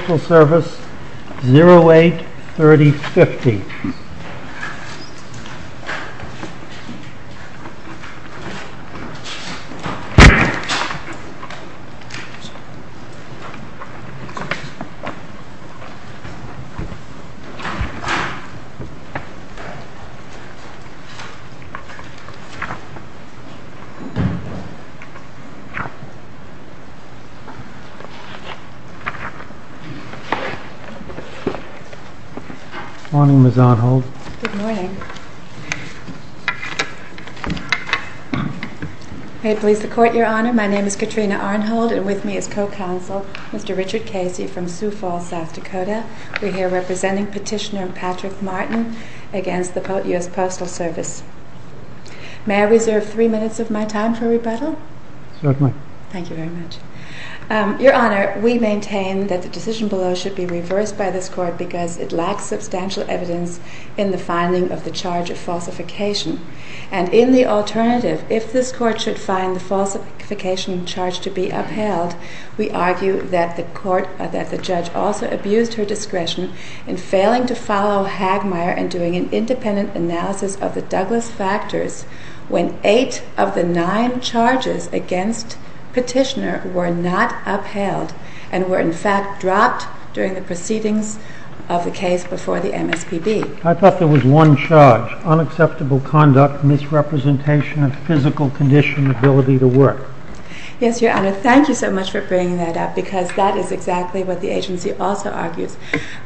Special Service, 08-30-50 Good morning, Ms. Arnhold. Good morning. May it please the Court, Your Honor, my name is Katrina Arnhold and with me is Co-Counsel Mr. Richard Casey from Sioux Falls, South Dakota. We are here representing Petitioner Patrick Martin against the US Postal Service. May I reserve three minutes of my time for rebuttal? Certainly. Thank you very much. Your Honor, we maintain that the decision below should be reversed by this Court because it lacks substantial evidence in the finding of the charge of falsification. And in the alternative, if this Court should find the falsification charge to be upheld, we argue that the Judge also abused her discretion in failing to follow Hagmeier and doing an independent analysis of the Douglas factors when eight of the nine charges against Petitioner were not upheld and were in fact dropped during the proceedings of the case before the MSPB. I thought there was one charge, unacceptable conduct, misrepresentation of physical condition, ability to work. Yes, Your Honor, thank you so much for bringing that up because that is exactly what the agency also argues.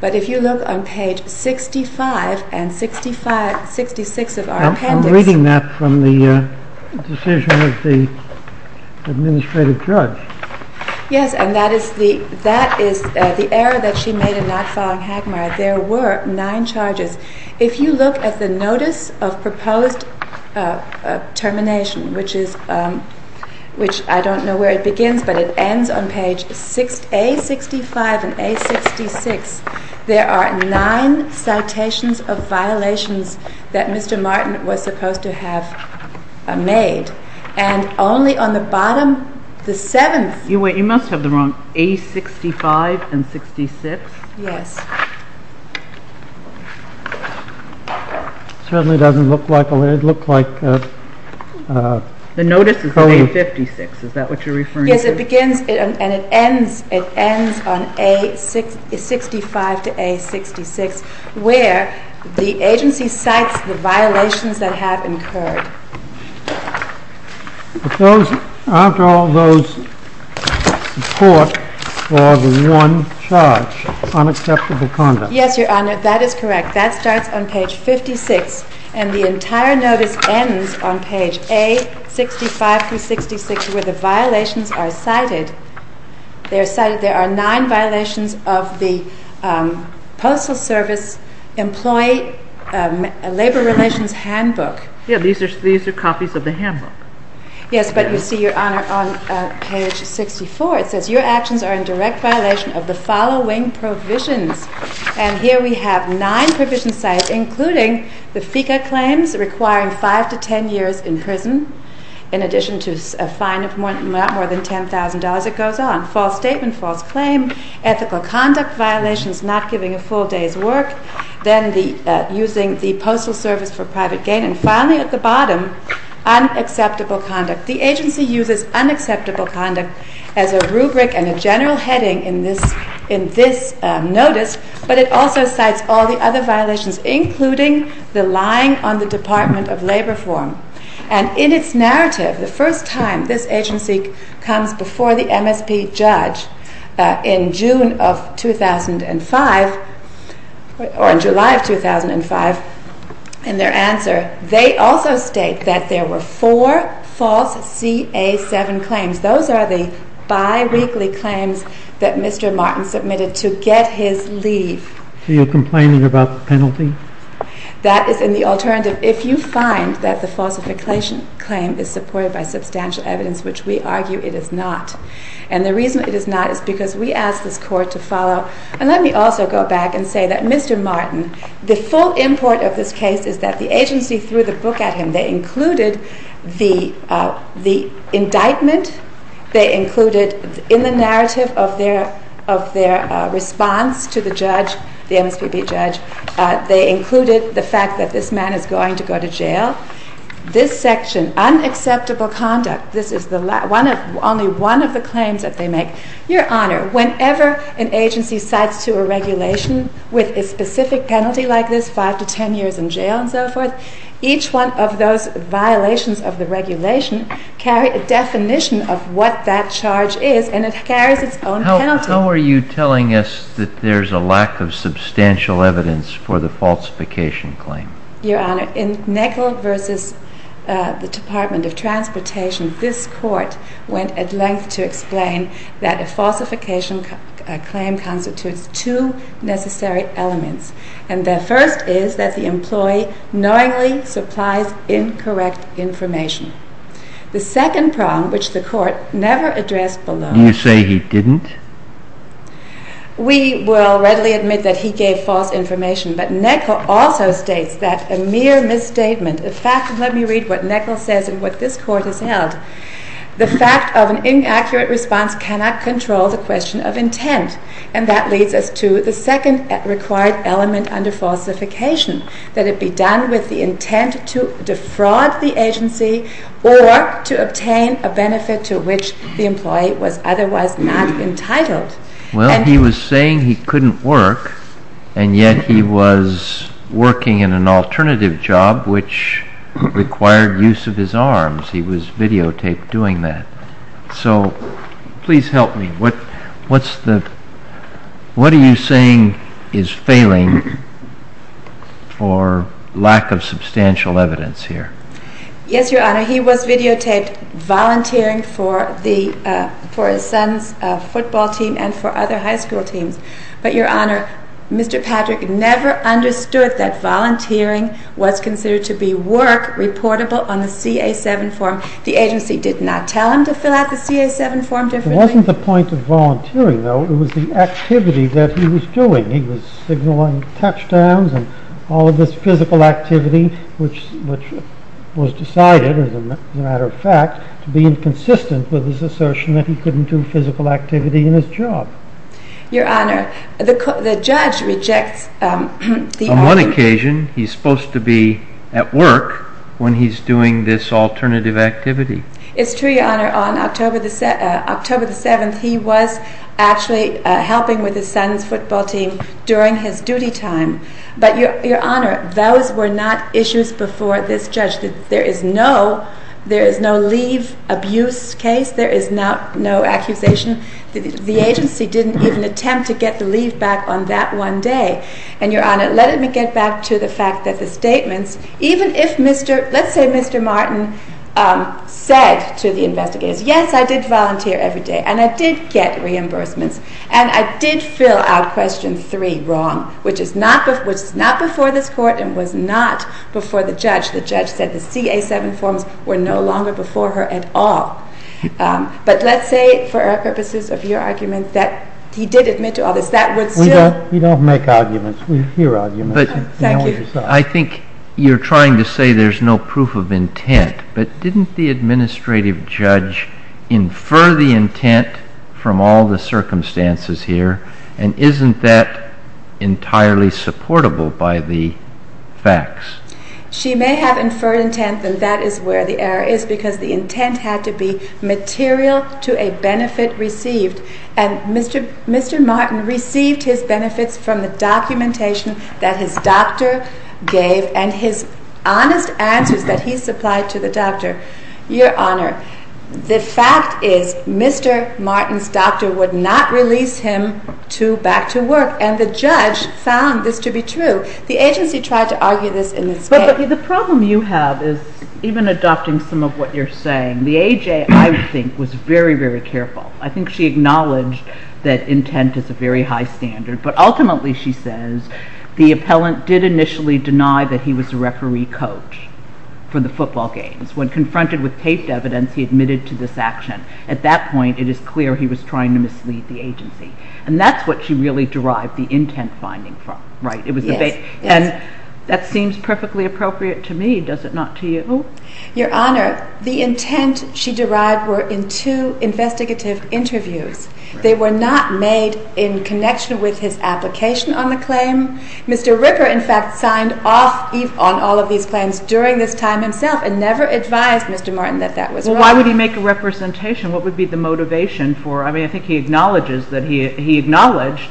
But if you look on page 65 and 66 of our appendix I'm reading that from the decision of the Administrative Judge. Yes, and that is the error that she made in not following Hagmeier. There were nine charges. If you look at the notice of proposed termination, which I don't know where it begins, but it ends on page A65 and A66, there are nine citations of violations that Mr. Martin was supposed to have made. And only on the bottom, the seventh... You must have the wrong, A65 and 66? Yes. It certainly doesn't look like... The notice is A56, is that what you're referring to? Yes, it begins and it ends on A65 to A66, where the agency cites the violations that have incurred. But those, after all those reports, are the one charge, unacceptable conduct. Yes, Your Honor, that is correct. That starts on page 56 and the entire notice ends on page A65 through 66, where the violations are cited. They are cited, there are nine violations of the Postal Service Employee Labor Relations Handbook. Yeah, these are copies of the handbook. Yes, but you see, Your Honor, on page 64, it says, your actions are in direct violation of the following provisions. And here we have nine provision sites, including the FICA claims requiring five to ten years in prison, in addition to a fine of not more than $10,000. It goes on. False statement, false claim, ethical conduct violations, not giving a full day's work, then using the Postal Service for private gain. And finally, at the bottom, unacceptable conduct. The agency uses unacceptable conduct as a rubric and a general heading in this notice, but it also cites all the other violations, including the lying on the Department of Labor form. And in its narrative, the first time this agency comes before the MSP judge in June of 2005, or in July of 2005, in their answer, they also state that there were four false CA7 claims. Those are the biweekly claims that Mr. Martin submitted to get his leave. So you're complaining about the penalty? That is in the alternative. If you find that the falsification claim is supported by substantial evidence, which we argue it is not. And the reason it is not is because we ask this Court to follow. And let me also go back and say that Mr. Martin, the full import of this case is that the agency threw the book at him. They included the indictment. They included in the narrative of their response to the judge, the MSPB judge, they included the fact that this man is going to go to jail. This section, unacceptable conduct, this is only one of the claims that they make. Your Honor, whenever an agency cites to a regulation with a specific penalty like this, five to ten years in jail and so forth, each one of those violations of the regulation carry a definition of what that charge is, and it carries its own penalty. How are you telling us that there's a lack of substantial evidence for the falsification claim? Your Honor, in Nagle v. the Department of Transportation, this Court went at length to explain that a falsification claim constitutes two necessary elements. And the first is that the employee knowingly supplies incorrect information. The second problem, which the Court never addressed below… Do you say he didn't? We will readily admit that he gave false information, but Nagle also states that a mere misstatement, in fact, let me read what Nagle says and what this Court has held, the fact of an inaccurate response cannot control the question of intent. And that leads us to the second required element under falsification, that it be done with the intent to defraud the agency or to obtain a benefit to which the employee was otherwise not entitled. Well, he was saying he couldn't work, and yet he was working in an alternative job which required use of his arms. He was videotaped doing that. So, please help me. What are you saying is failing for lack of substantial evidence here? Yes, Your Honor, he was videotaped volunteering for his son's football team and for other high school teams. But, Your Honor, Mr. Patrick never understood that volunteering was considered to be work reportable on the CA-7 form. The agency did not tell him to fill out the CA-7 form differently. It wasn't the point of volunteering, though. It was the activity that he was doing. He was signaling touchdowns and all of this physical activity which was decided, as a matter of fact, to be inconsistent with his assertion that he couldn't do physical activity in his job. Your Honor, the judge rejects the... On one occasion, he's supposed to be at work when he's doing this alternative activity. It's true, Your Honor. On October the 7th, he was actually helping with his son's football team during his duty time. But, Your Honor, those were not issues before this judge. There is no leave abuse case. There is no accusation. The agency didn't even attempt to get the leave back on that one day. And, Your Honor, let me get back to the fact that the statements, even if Mr. Let's say Mr. Martin said to the investigators, Yes, I did volunteer every day, and I did get reimbursements, and I did fill out Question 3 wrong, which is not before this court and was not before the judge. The judge said the CA-7 forms were no longer before her at all. But let's say, for our purposes of your argument, that he did admit to all this. That would still... We don't make arguments. We hear arguments. Thank you. I think you're trying to say there's no proof of intent, but didn't the administrative judge infer the intent from all the circumstances here? And isn't that entirely supportable by the facts? She may have inferred intent, and that is where the error is because the intent had to be material to a benefit received. And Mr. Martin received his benefits from the documentation that his doctor gave and his honest answers that he supplied to the doctor. Your Honor, the fact is Mr. Martin's doctor would not release him back to work, and the judge found this to be true. The agency tried to argue this in this case. The problem you have is, even adopting some of what you're saying, the AJ, I think, was very, very careful. I think she acknowledged that intent is a very high standard, but ultimately, she says, the appellant did initially deny that he was a referee coach for the football games. When confronted with taped evidence, he admitted to this action. At that point, it is clear he was trying to mislead the agency. And that's what she really derived the intent finding from. And that seems perfectly appropriate to me, does it not to you? Your Honor, the intent she derived were in two investigative interviews. They were not made in connection with his application on the claim. Mr. Ripper, in fact, signed off on all of these claims during this time himself and never advised Mr. Martin that that was wrong. Well, why would he make a representation? What would be the motivation for it? I mean, I think he acknowledges that he acknowledged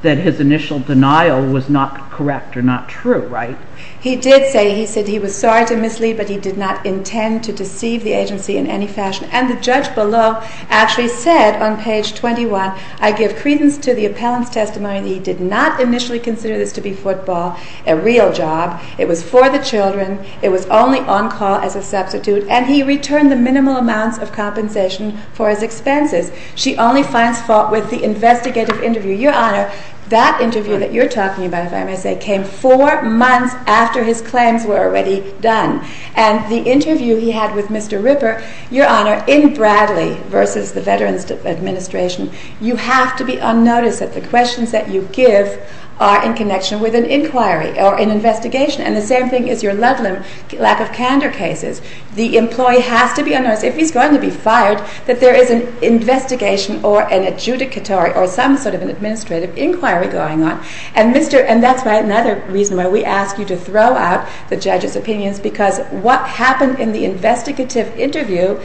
that his initial denial was not correct or not true, right? He did say he was sorry to mislead, but he did not intend to deceive the agency in any fashion. And the judge below actually said on page 21, I give credence to the appellant's testimony that he did not initially consider this to be football, a real job. It was for the children. It was only on call as a substitute. And he returned the minimal amounts of compensation for his expenses. She only finds fault with the investigative interview. Your Honor, that interview that you're talking about, if I may say, came four months after his claims were already done. And the interview he had with Mr. Ripper, Your Honor, in Bradley versus the Veterans Administration, you have to be unnoticed that the questions that you give are in connection with an inquiry or an investigation. And the same thing is your Ludlam lack of candor cases. The employee has to be unnoticed, if he's going to be fired, that there is an investigation or an adjudicatory or some sort of an administrative inquiry going on. And that's another reason why we ask you to throw out the judge's opinions, because what happened in the investigative interview,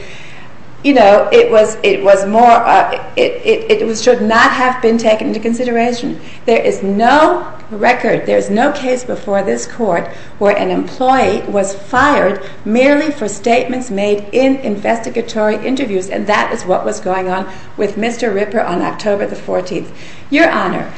you know, it should not have been taken into consideration. There is no record, there is no case before this Court where an employee was fired merely for statements made in investigatory interviews, and that is what was going on with Mr. Ripper on October the 14th. Your Honor,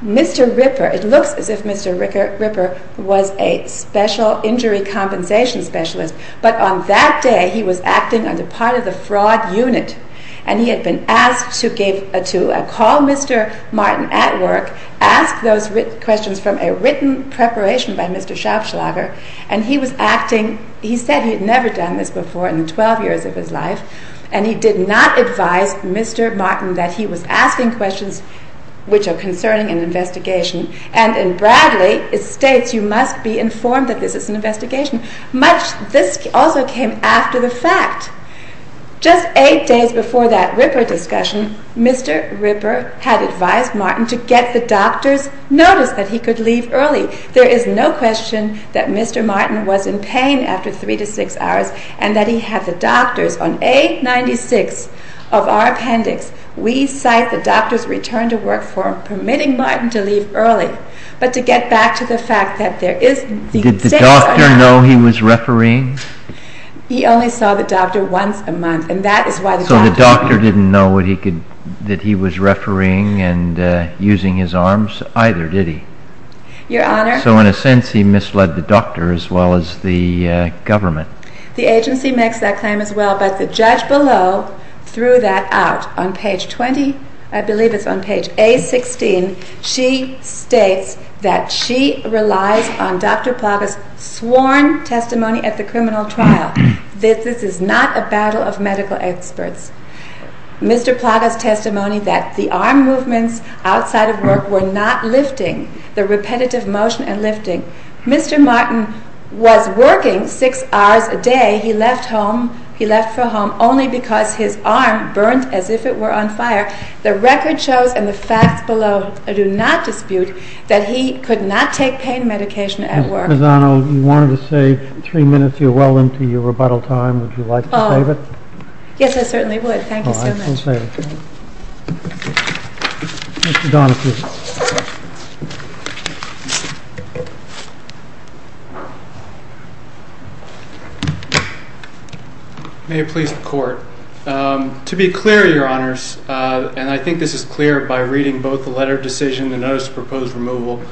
Mr. Ripper, it looks as if Mr. Ripper was a special injury compensation specialist, but on that day he was acting under part of the fraud unit, and he had been asked to call Mr. Martin at work, ask those questions from a written preparation by Mr. Schaubschlager, and he was acting, he said he had never done this before in the 12 years of his life, and he did not advise Mr. Martin that he was asking questions which are concerning an investigation, and in Bradley it states you must be informed that this is an investigation. This also came after the fact. Just eight days before that Ripper discussion, Mr. Ripper had advised Martin to get the doctor's notice that he could leave early. There is no question that Mr. Martin was in pain after three to six hours and that he had the doctor's. On A96 of our appendix, we cite the doctor's return to work form permitting Martin to leave early, but to get back to the fact that there is... Did the doctor know he was refereeing? He only saw the doctor once a month, and that is why... So the doctor didn't know that he was refereeing and using his arms either, did he? Your Honor... So in a sense he misled the doctor as well as the government. The agency makes that claim as well, but the judge below threw that out. On page 20, I believe it's on page A16, she states that she relies on Dr. Plagas' sworn testimony at the criminal trial. This is not a battle of medical experts. Mr. Plagas' testimony that the arm movements outside of work were not lifting, the repetitive motion and lifting. Mr. Martin was working six hours a day. He left for home only because his arm burnt as if it were on fire. The record shows and the facts below do not dispute that he could not take pain medication at work. Ms. Lozano, you wanted to say three minutes. You're well into your rebuttal time. Would you like to save it? Yes, I certainly would. Thank you so much. All right. We'll save it. Mr. Donahue. May it please the Court. To be clear, Your Honors, and I think this is clear by reading both the letter of decision, the notice of proposed removal,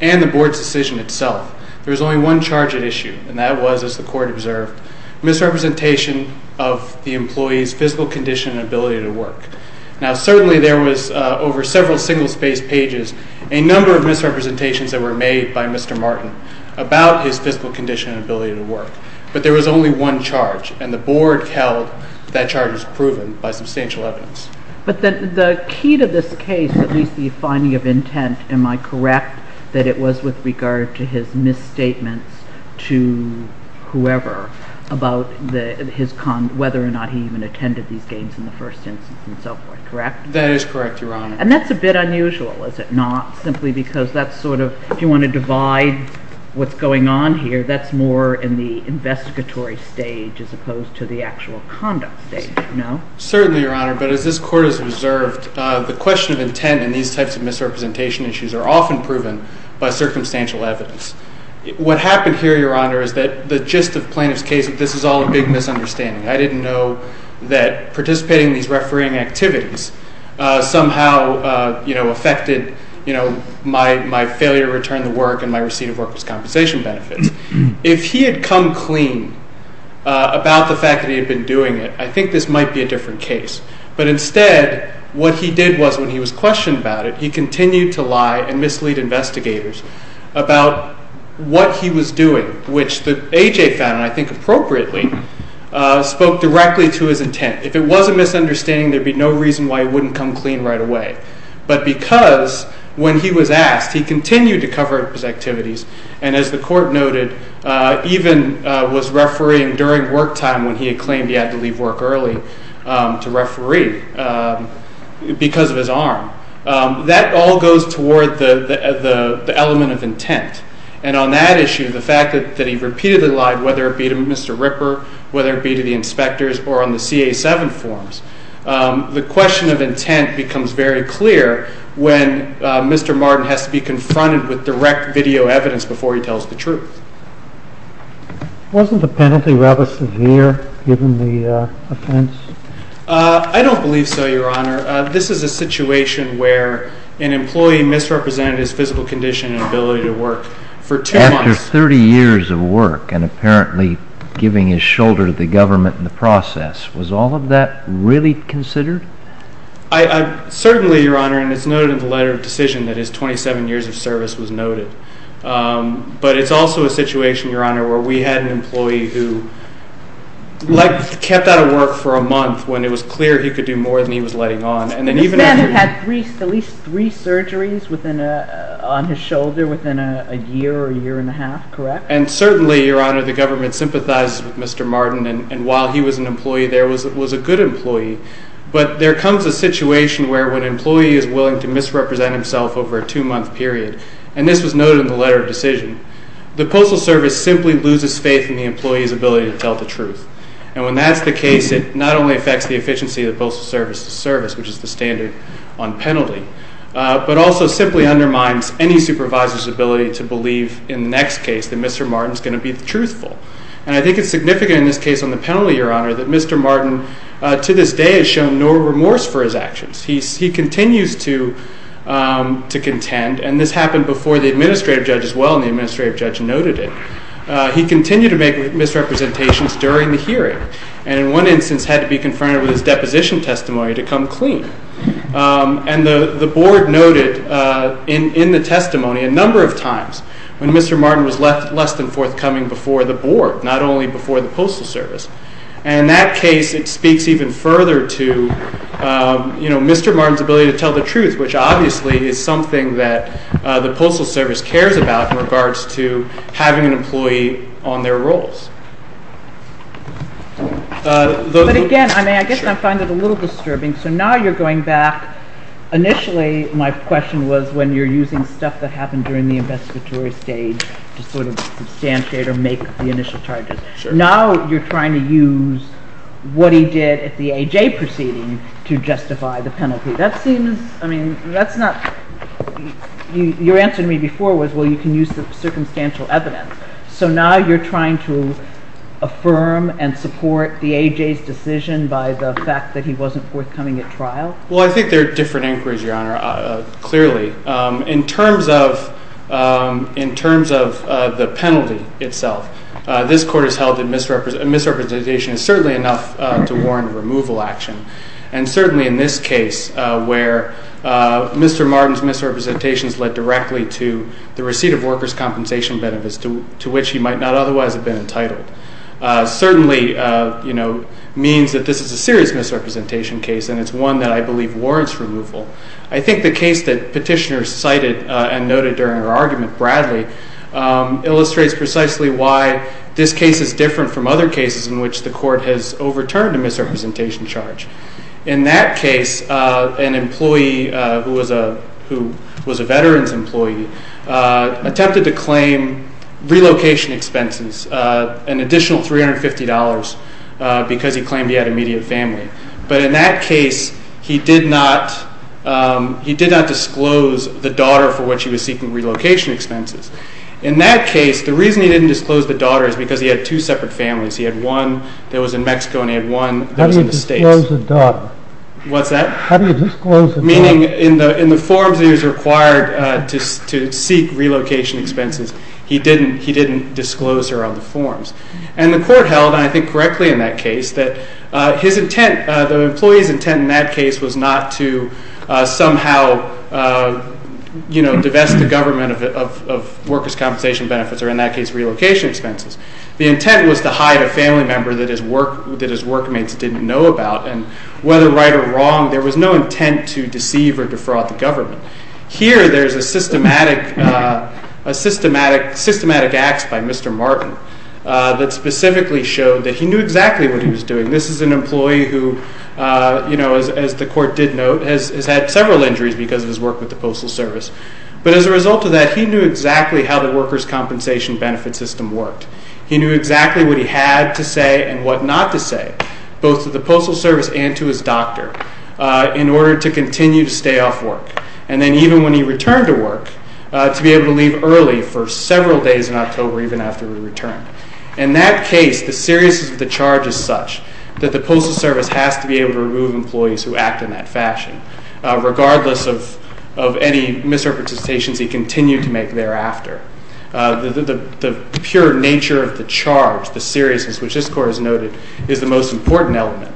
and the Board's decision itself, there is only one charge at issue, and that was, as the Court observed, misrepresentation of the employee's physical condition and ability to work. Now, certainly there was, over several single-spaced pages, a number of misrepresentations that were made by Mr. Martin about his physical condition and ability to work. But there was only one charge, and the Board held that charge was proven by substantial evidence. But the key to this case, at least the finding of intent, am I correct that it was with regard to his misstatements to whoever? About whether or not he even attended these games in the first instance and so forth, correct? That is correct, Your Honor. And that's a bit unusual, is it not? Simply because that's sort of, if you want to divide what's going on here, that's more in the investigatory stage as opposed to the actual conduct stage, no? Certainly, Your Honor, but as this Court has observed, the question of intent in these types of misrepresentation issues are often proven by circumstantial evidence. What happened here, Your Honor, is that the gist of plaintiff's case, this is all a big misunderstanding. I didn't know that participating in these refereeing activities somehow affected my failure to return the work and my receipt of workers' compensation benefits. If he had come clean about the fact that he had been doing it, I think this might be a different case. But instead, what he did was, when he was questioned about it, he continued to lie and mislead investigators about what he was doing, which the A.J. found, I think appropriately, spoke directly to his intent. If it was a misunderstanding, there would be no reason why he wouldn't come clean right away. But because when he was asked, he continued to cover up his activities, and as the Court noted, even was refereeing during work time when he had claimed he had to leave work early to referee because of his arm. That all goes toward the element of intent. And on that issue, the fact that he repeatedly lied, whether it be to Mr. Ripper, whether it be to the inspectors, or on the CA-7 forms, the question of intent becomes very clear when Mr. Martin has to be confronted with direct video evidence before he tells the truth. Wasn't the penalty rather severe, given the offense? I don't believe so, Your Honor. This is a situation where an employee misrepresented his physical condition and ability to work for two months. After 30 years of work and apparently giving his shoulder to the government in the process, was all of that really considered? Certainly, Your Honor, and it's noted in the letter of decision that his 27 years of service was noted. But it's also a situation, Your Honor, where we had an employee who kept out of work for a month when it was clear he could do more than he was letting on. This man had at least three surgeries on his shoulder within a year or a year and a half, correct? And certainly, Your Honor, the government sympathized with Mr. Martin, and while he was an employee there, was a good employee. But there comes a situation where an employee is willing to misrepresent himself over a two-month period, and this was noted in the letter of decision. The Postal Service simply loses faith in the employee's ability to tell the truth. And when that's the case, it not only affects the efficiency of the Postal Service's service, which is the standard on penalty, but also simply undermines any supervisor's ability to believe in the next case that Mr. Martin is going to be truthful. And I think it's significant in this case on the penalty, Your Honor, that Mr. Martin to this day has shown no remorse for his actions. He continues to contend, and this happened before the administrative judge as well, and the administrative judge noted it. He continued to make misrepresentations during the hearing, and in one instance had to be confronted with his deposition testimony to come clean. And the board noted in the testimony a number of times when Mr. Martin was less than forthcoming before the board, not only before the Postal Service. And in that case, it speaks even further to Mr. Martin's ability to tell the truth, which obviously is something that the Postal Service cares about in regards to having an employee on their roles. But again, I mean, I guess I find it a little disturbing. So now you're going back. Initially, my question was when you're using stuff that happened during the investigatory stage to sort of substantiate or make the initial charges. Now you're trying to use what he did at the AJ proceeding to justify the penalty. That seems, I mean, that's not, your answer to me before was, well, you can use the circumstantial evidence. So now you're trying to affirm and support the AJ's decision by the fact that he wasn't forthcoming at trial? Well, I think there are different inquiries, Your Honor, clearly. In terms of the penalty itself, this court has held that misrepresentation is certainly enough to warrant removal action. And certainly in this case where Mr. Martin's misrepresentations led directly to the receipt of workers' compensation benefits, to which he might not otherwise have been entitled, certainly means that this is a serious misrepresentation case, and it's one that I believe warrants removal. I think the case that Petitioner cited and noted during her argument, Bradley, illustrates precisely why this case is different from other cases in which the court has overturned a misrepresentation charge. In that case, an employee who was a veteran's employee attempted to claim relocation expenses, an additional $350 because he claimed he had immediate family. But in that case, he did not disclose the daughter for which he was seeking relocation expenses. In that case, the reason he didn't disclose the daughter is because he had two separate families. He had one that was in Mexico and he had one that was in the States. How do you disclose a daughter? What's that? How do you disclose a daughter? Meaning in the forms he was required to seek relocation expenses, he didn't disclose her on the forms. And the court held, and I think correctly in that case, that his intent, the employee's intent in that case was not to somehow divest the government of workers' compensation benefits, or in that case, relocation expenses. The intent was to hide a family member that his workmates didn't know about, and whether right or wrong, there was no intent to deceive or defraud the government. Here, there's a systematic ax by Mr. Martin that specifically showed that he knew exactly what he was doing. This is an employee who, as the court did note, has had several injuries because of his work with the Postal Service. But as a result of that, he knew exactly how the workers' compensation benefits system worked. He knew exactly what he had to say and what not to say, both to the Postal Service and to his doctor, in order to continue to stay off work. And then even when he returned to work, to be able to leave early for several days in October, even after he returned. In that case, the seriousness of the charge is such that the Postal Service has to be able to remove employees who act in that fashion, regardless of any misrepresentations he continued to make thereafter. The pure nature of the charge, the seriousness, which this court has noted is the most important element,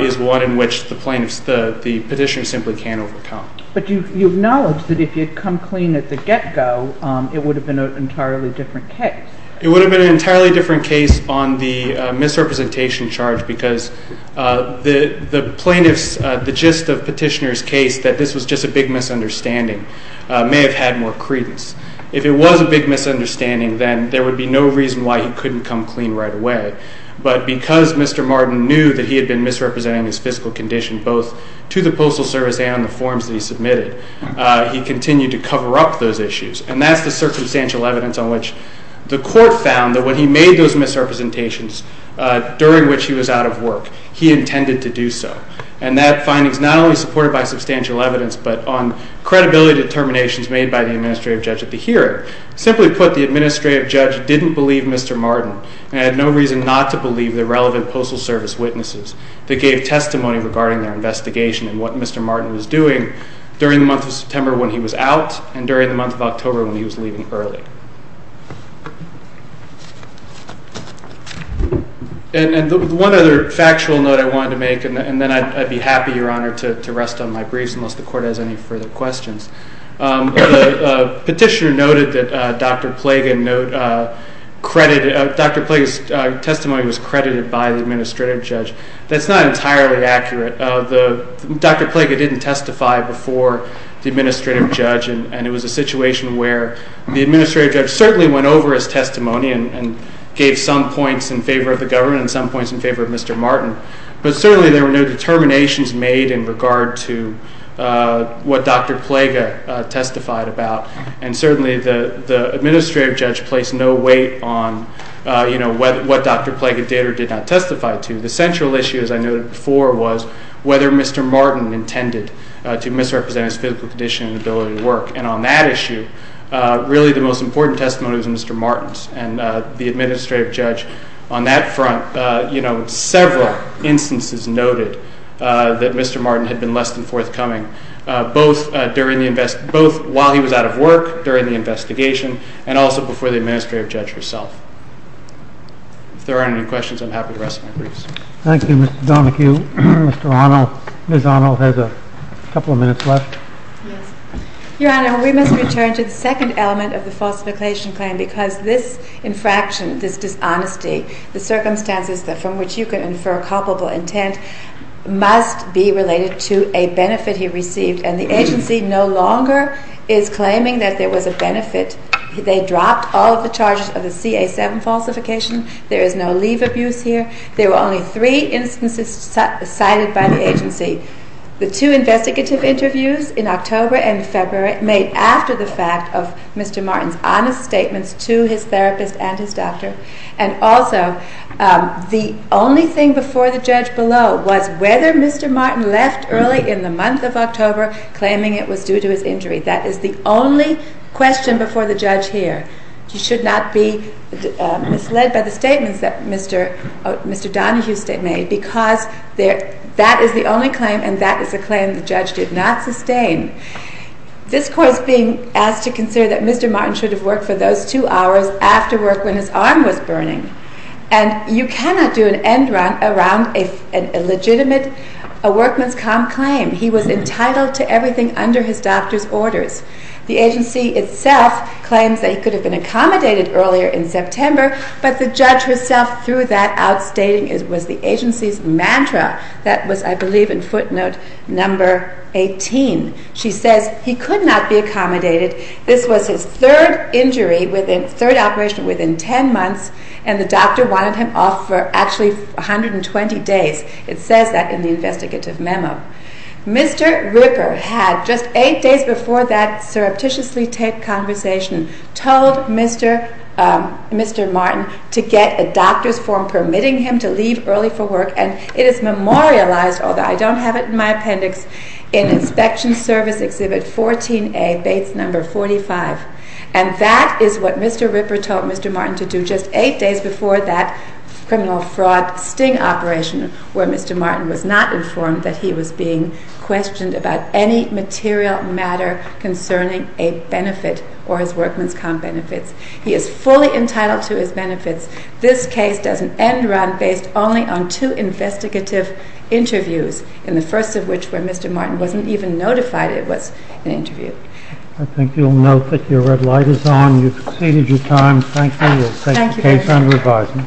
is one in which the petitioner simply can't overcome. But you acknowledge that if you had come clean at the get-go, it would have been an entirely different case. It would have been an entirely different case on the misrepresentation charge, because the plaintiff's, the gist of the petitioner's case, that this was just a big misunderstanding, may have had more credence. If it was a big misunderstanding, then there would be no reason why he couldn't come clean right away. But because Mr. Martin knew that he had been misrepresenting his physical condition, both to the Postal Service and on the forms that he submitted, he continued to cover up those issues. And that's the circumstantial evidence on which the court found that when he made those misrepresentations, during which he was out of work, he intended to do so. And that finding is not only supported by substantial evidence, but on credibility determinations made by the administrative judge at the hearing. Simply put, the administrative judge didn't believe Mr. Martin, and had no reason not to believe the relevant Postal Service witnesses that gave testimony regarding their investigation and what Mr. Martin was doing during the month of September when he was out, and during the month of October when he was leaving early. And one other factual note I wanted to make, and then I'd be happy, Your Honor, to rest on my briefs, unless the court has any further questions. The petitioner noted that Dr. Plaga's testimony was credited by the administrative judge. That's not entirely accurate. Dr. Plaga didn't testify before the administrative judge, and it was a situation where the administrative judge certainly went over his testimony and gave some points in favor of the government and some points in favor of Mr. Martin. But certainly there were no determinations made in regard to what Dr. Plaga testified about, and certainly the administrative judge placed no weight on what Dr. Plaga did or did not testify to. The central issue, as I noted before, was whether Mr. Martin intended to misrepresent his physical condition and ability to work. And on that issue, really the most important testimony was Mr. Martin's, and the administrative judge on that front in several instances noted that Mr. Martin had been less than forthcoming, both while he was out of work, during the investigation, and also before the administrative judge herself. If there aren't any questions, I'm happy to rest my briefs. Thank you, Mr. Donohue. Mr. Arnold, Ms. Arnold has a couple of minutes left. Your Honor, we must return to the second element of the falsification claim, because this infraction, this dishonesty, the circumstances from which you can infer culpable intent, must be related to a benefit he received, and the agency no longer is claiming that there was a benefit. They dropped all of the charges of the CA-7 falsification. There is no leave abuse here. There were only three instances cited by the agency. The two investigative interviews in October and February made after the fact of Mr. Martin's honest statements to his therapist and his doctor. And also, the only thing before the judge below was whether Mr. Martin left early in the month of October claiming it was due to his injury. That is the only question before the judge here. You should not be misled by the statements that Mr. Donohue made, because that is the only claim, and that is a claim the judge did not sustain. This Court is being asked to consider that Mr. Martin should have worked for those two hours after work when his arm was burning. And you cannot do an end around an illegitimate workman's comp claim. He was entitled to everything under his doctor's orders. The agency itself claims that he could have been accommodated earlier in September, but the judge herself threw that out, stating it was the agency's mantra. That was, I believe, in footnote number 18. She says he could not be accommodated. This was his third operation within 10 months, and the doctor wanted him off for actually 120 days. It says that in the investigative memo. Mr. Ripper had, just 8 days before that surreptitiously taped conversation, told Mr. Martin to get a doctor's form permitting him to leave early for work, and it is memorialized, although I don't have it in my appendix, in Inspection Service Exhibit 14A, Bates No. 45. And that is what Mr. Ripper told Mr. Martin to do just 8 days before that criminal fraud sting operation, where Mr. Martin was not informed that he was being questioned about any material matter concerning a benefit or his workman's comp benefits. He is fully entitled to his benefits. This case does an end run based only on two investigative interviews, in the first of which, where Mr. Martin wasn't even notified it was an interview. I think you'll note that your red light is on, you've exceeded your time. Thank you. We'll take the case under review.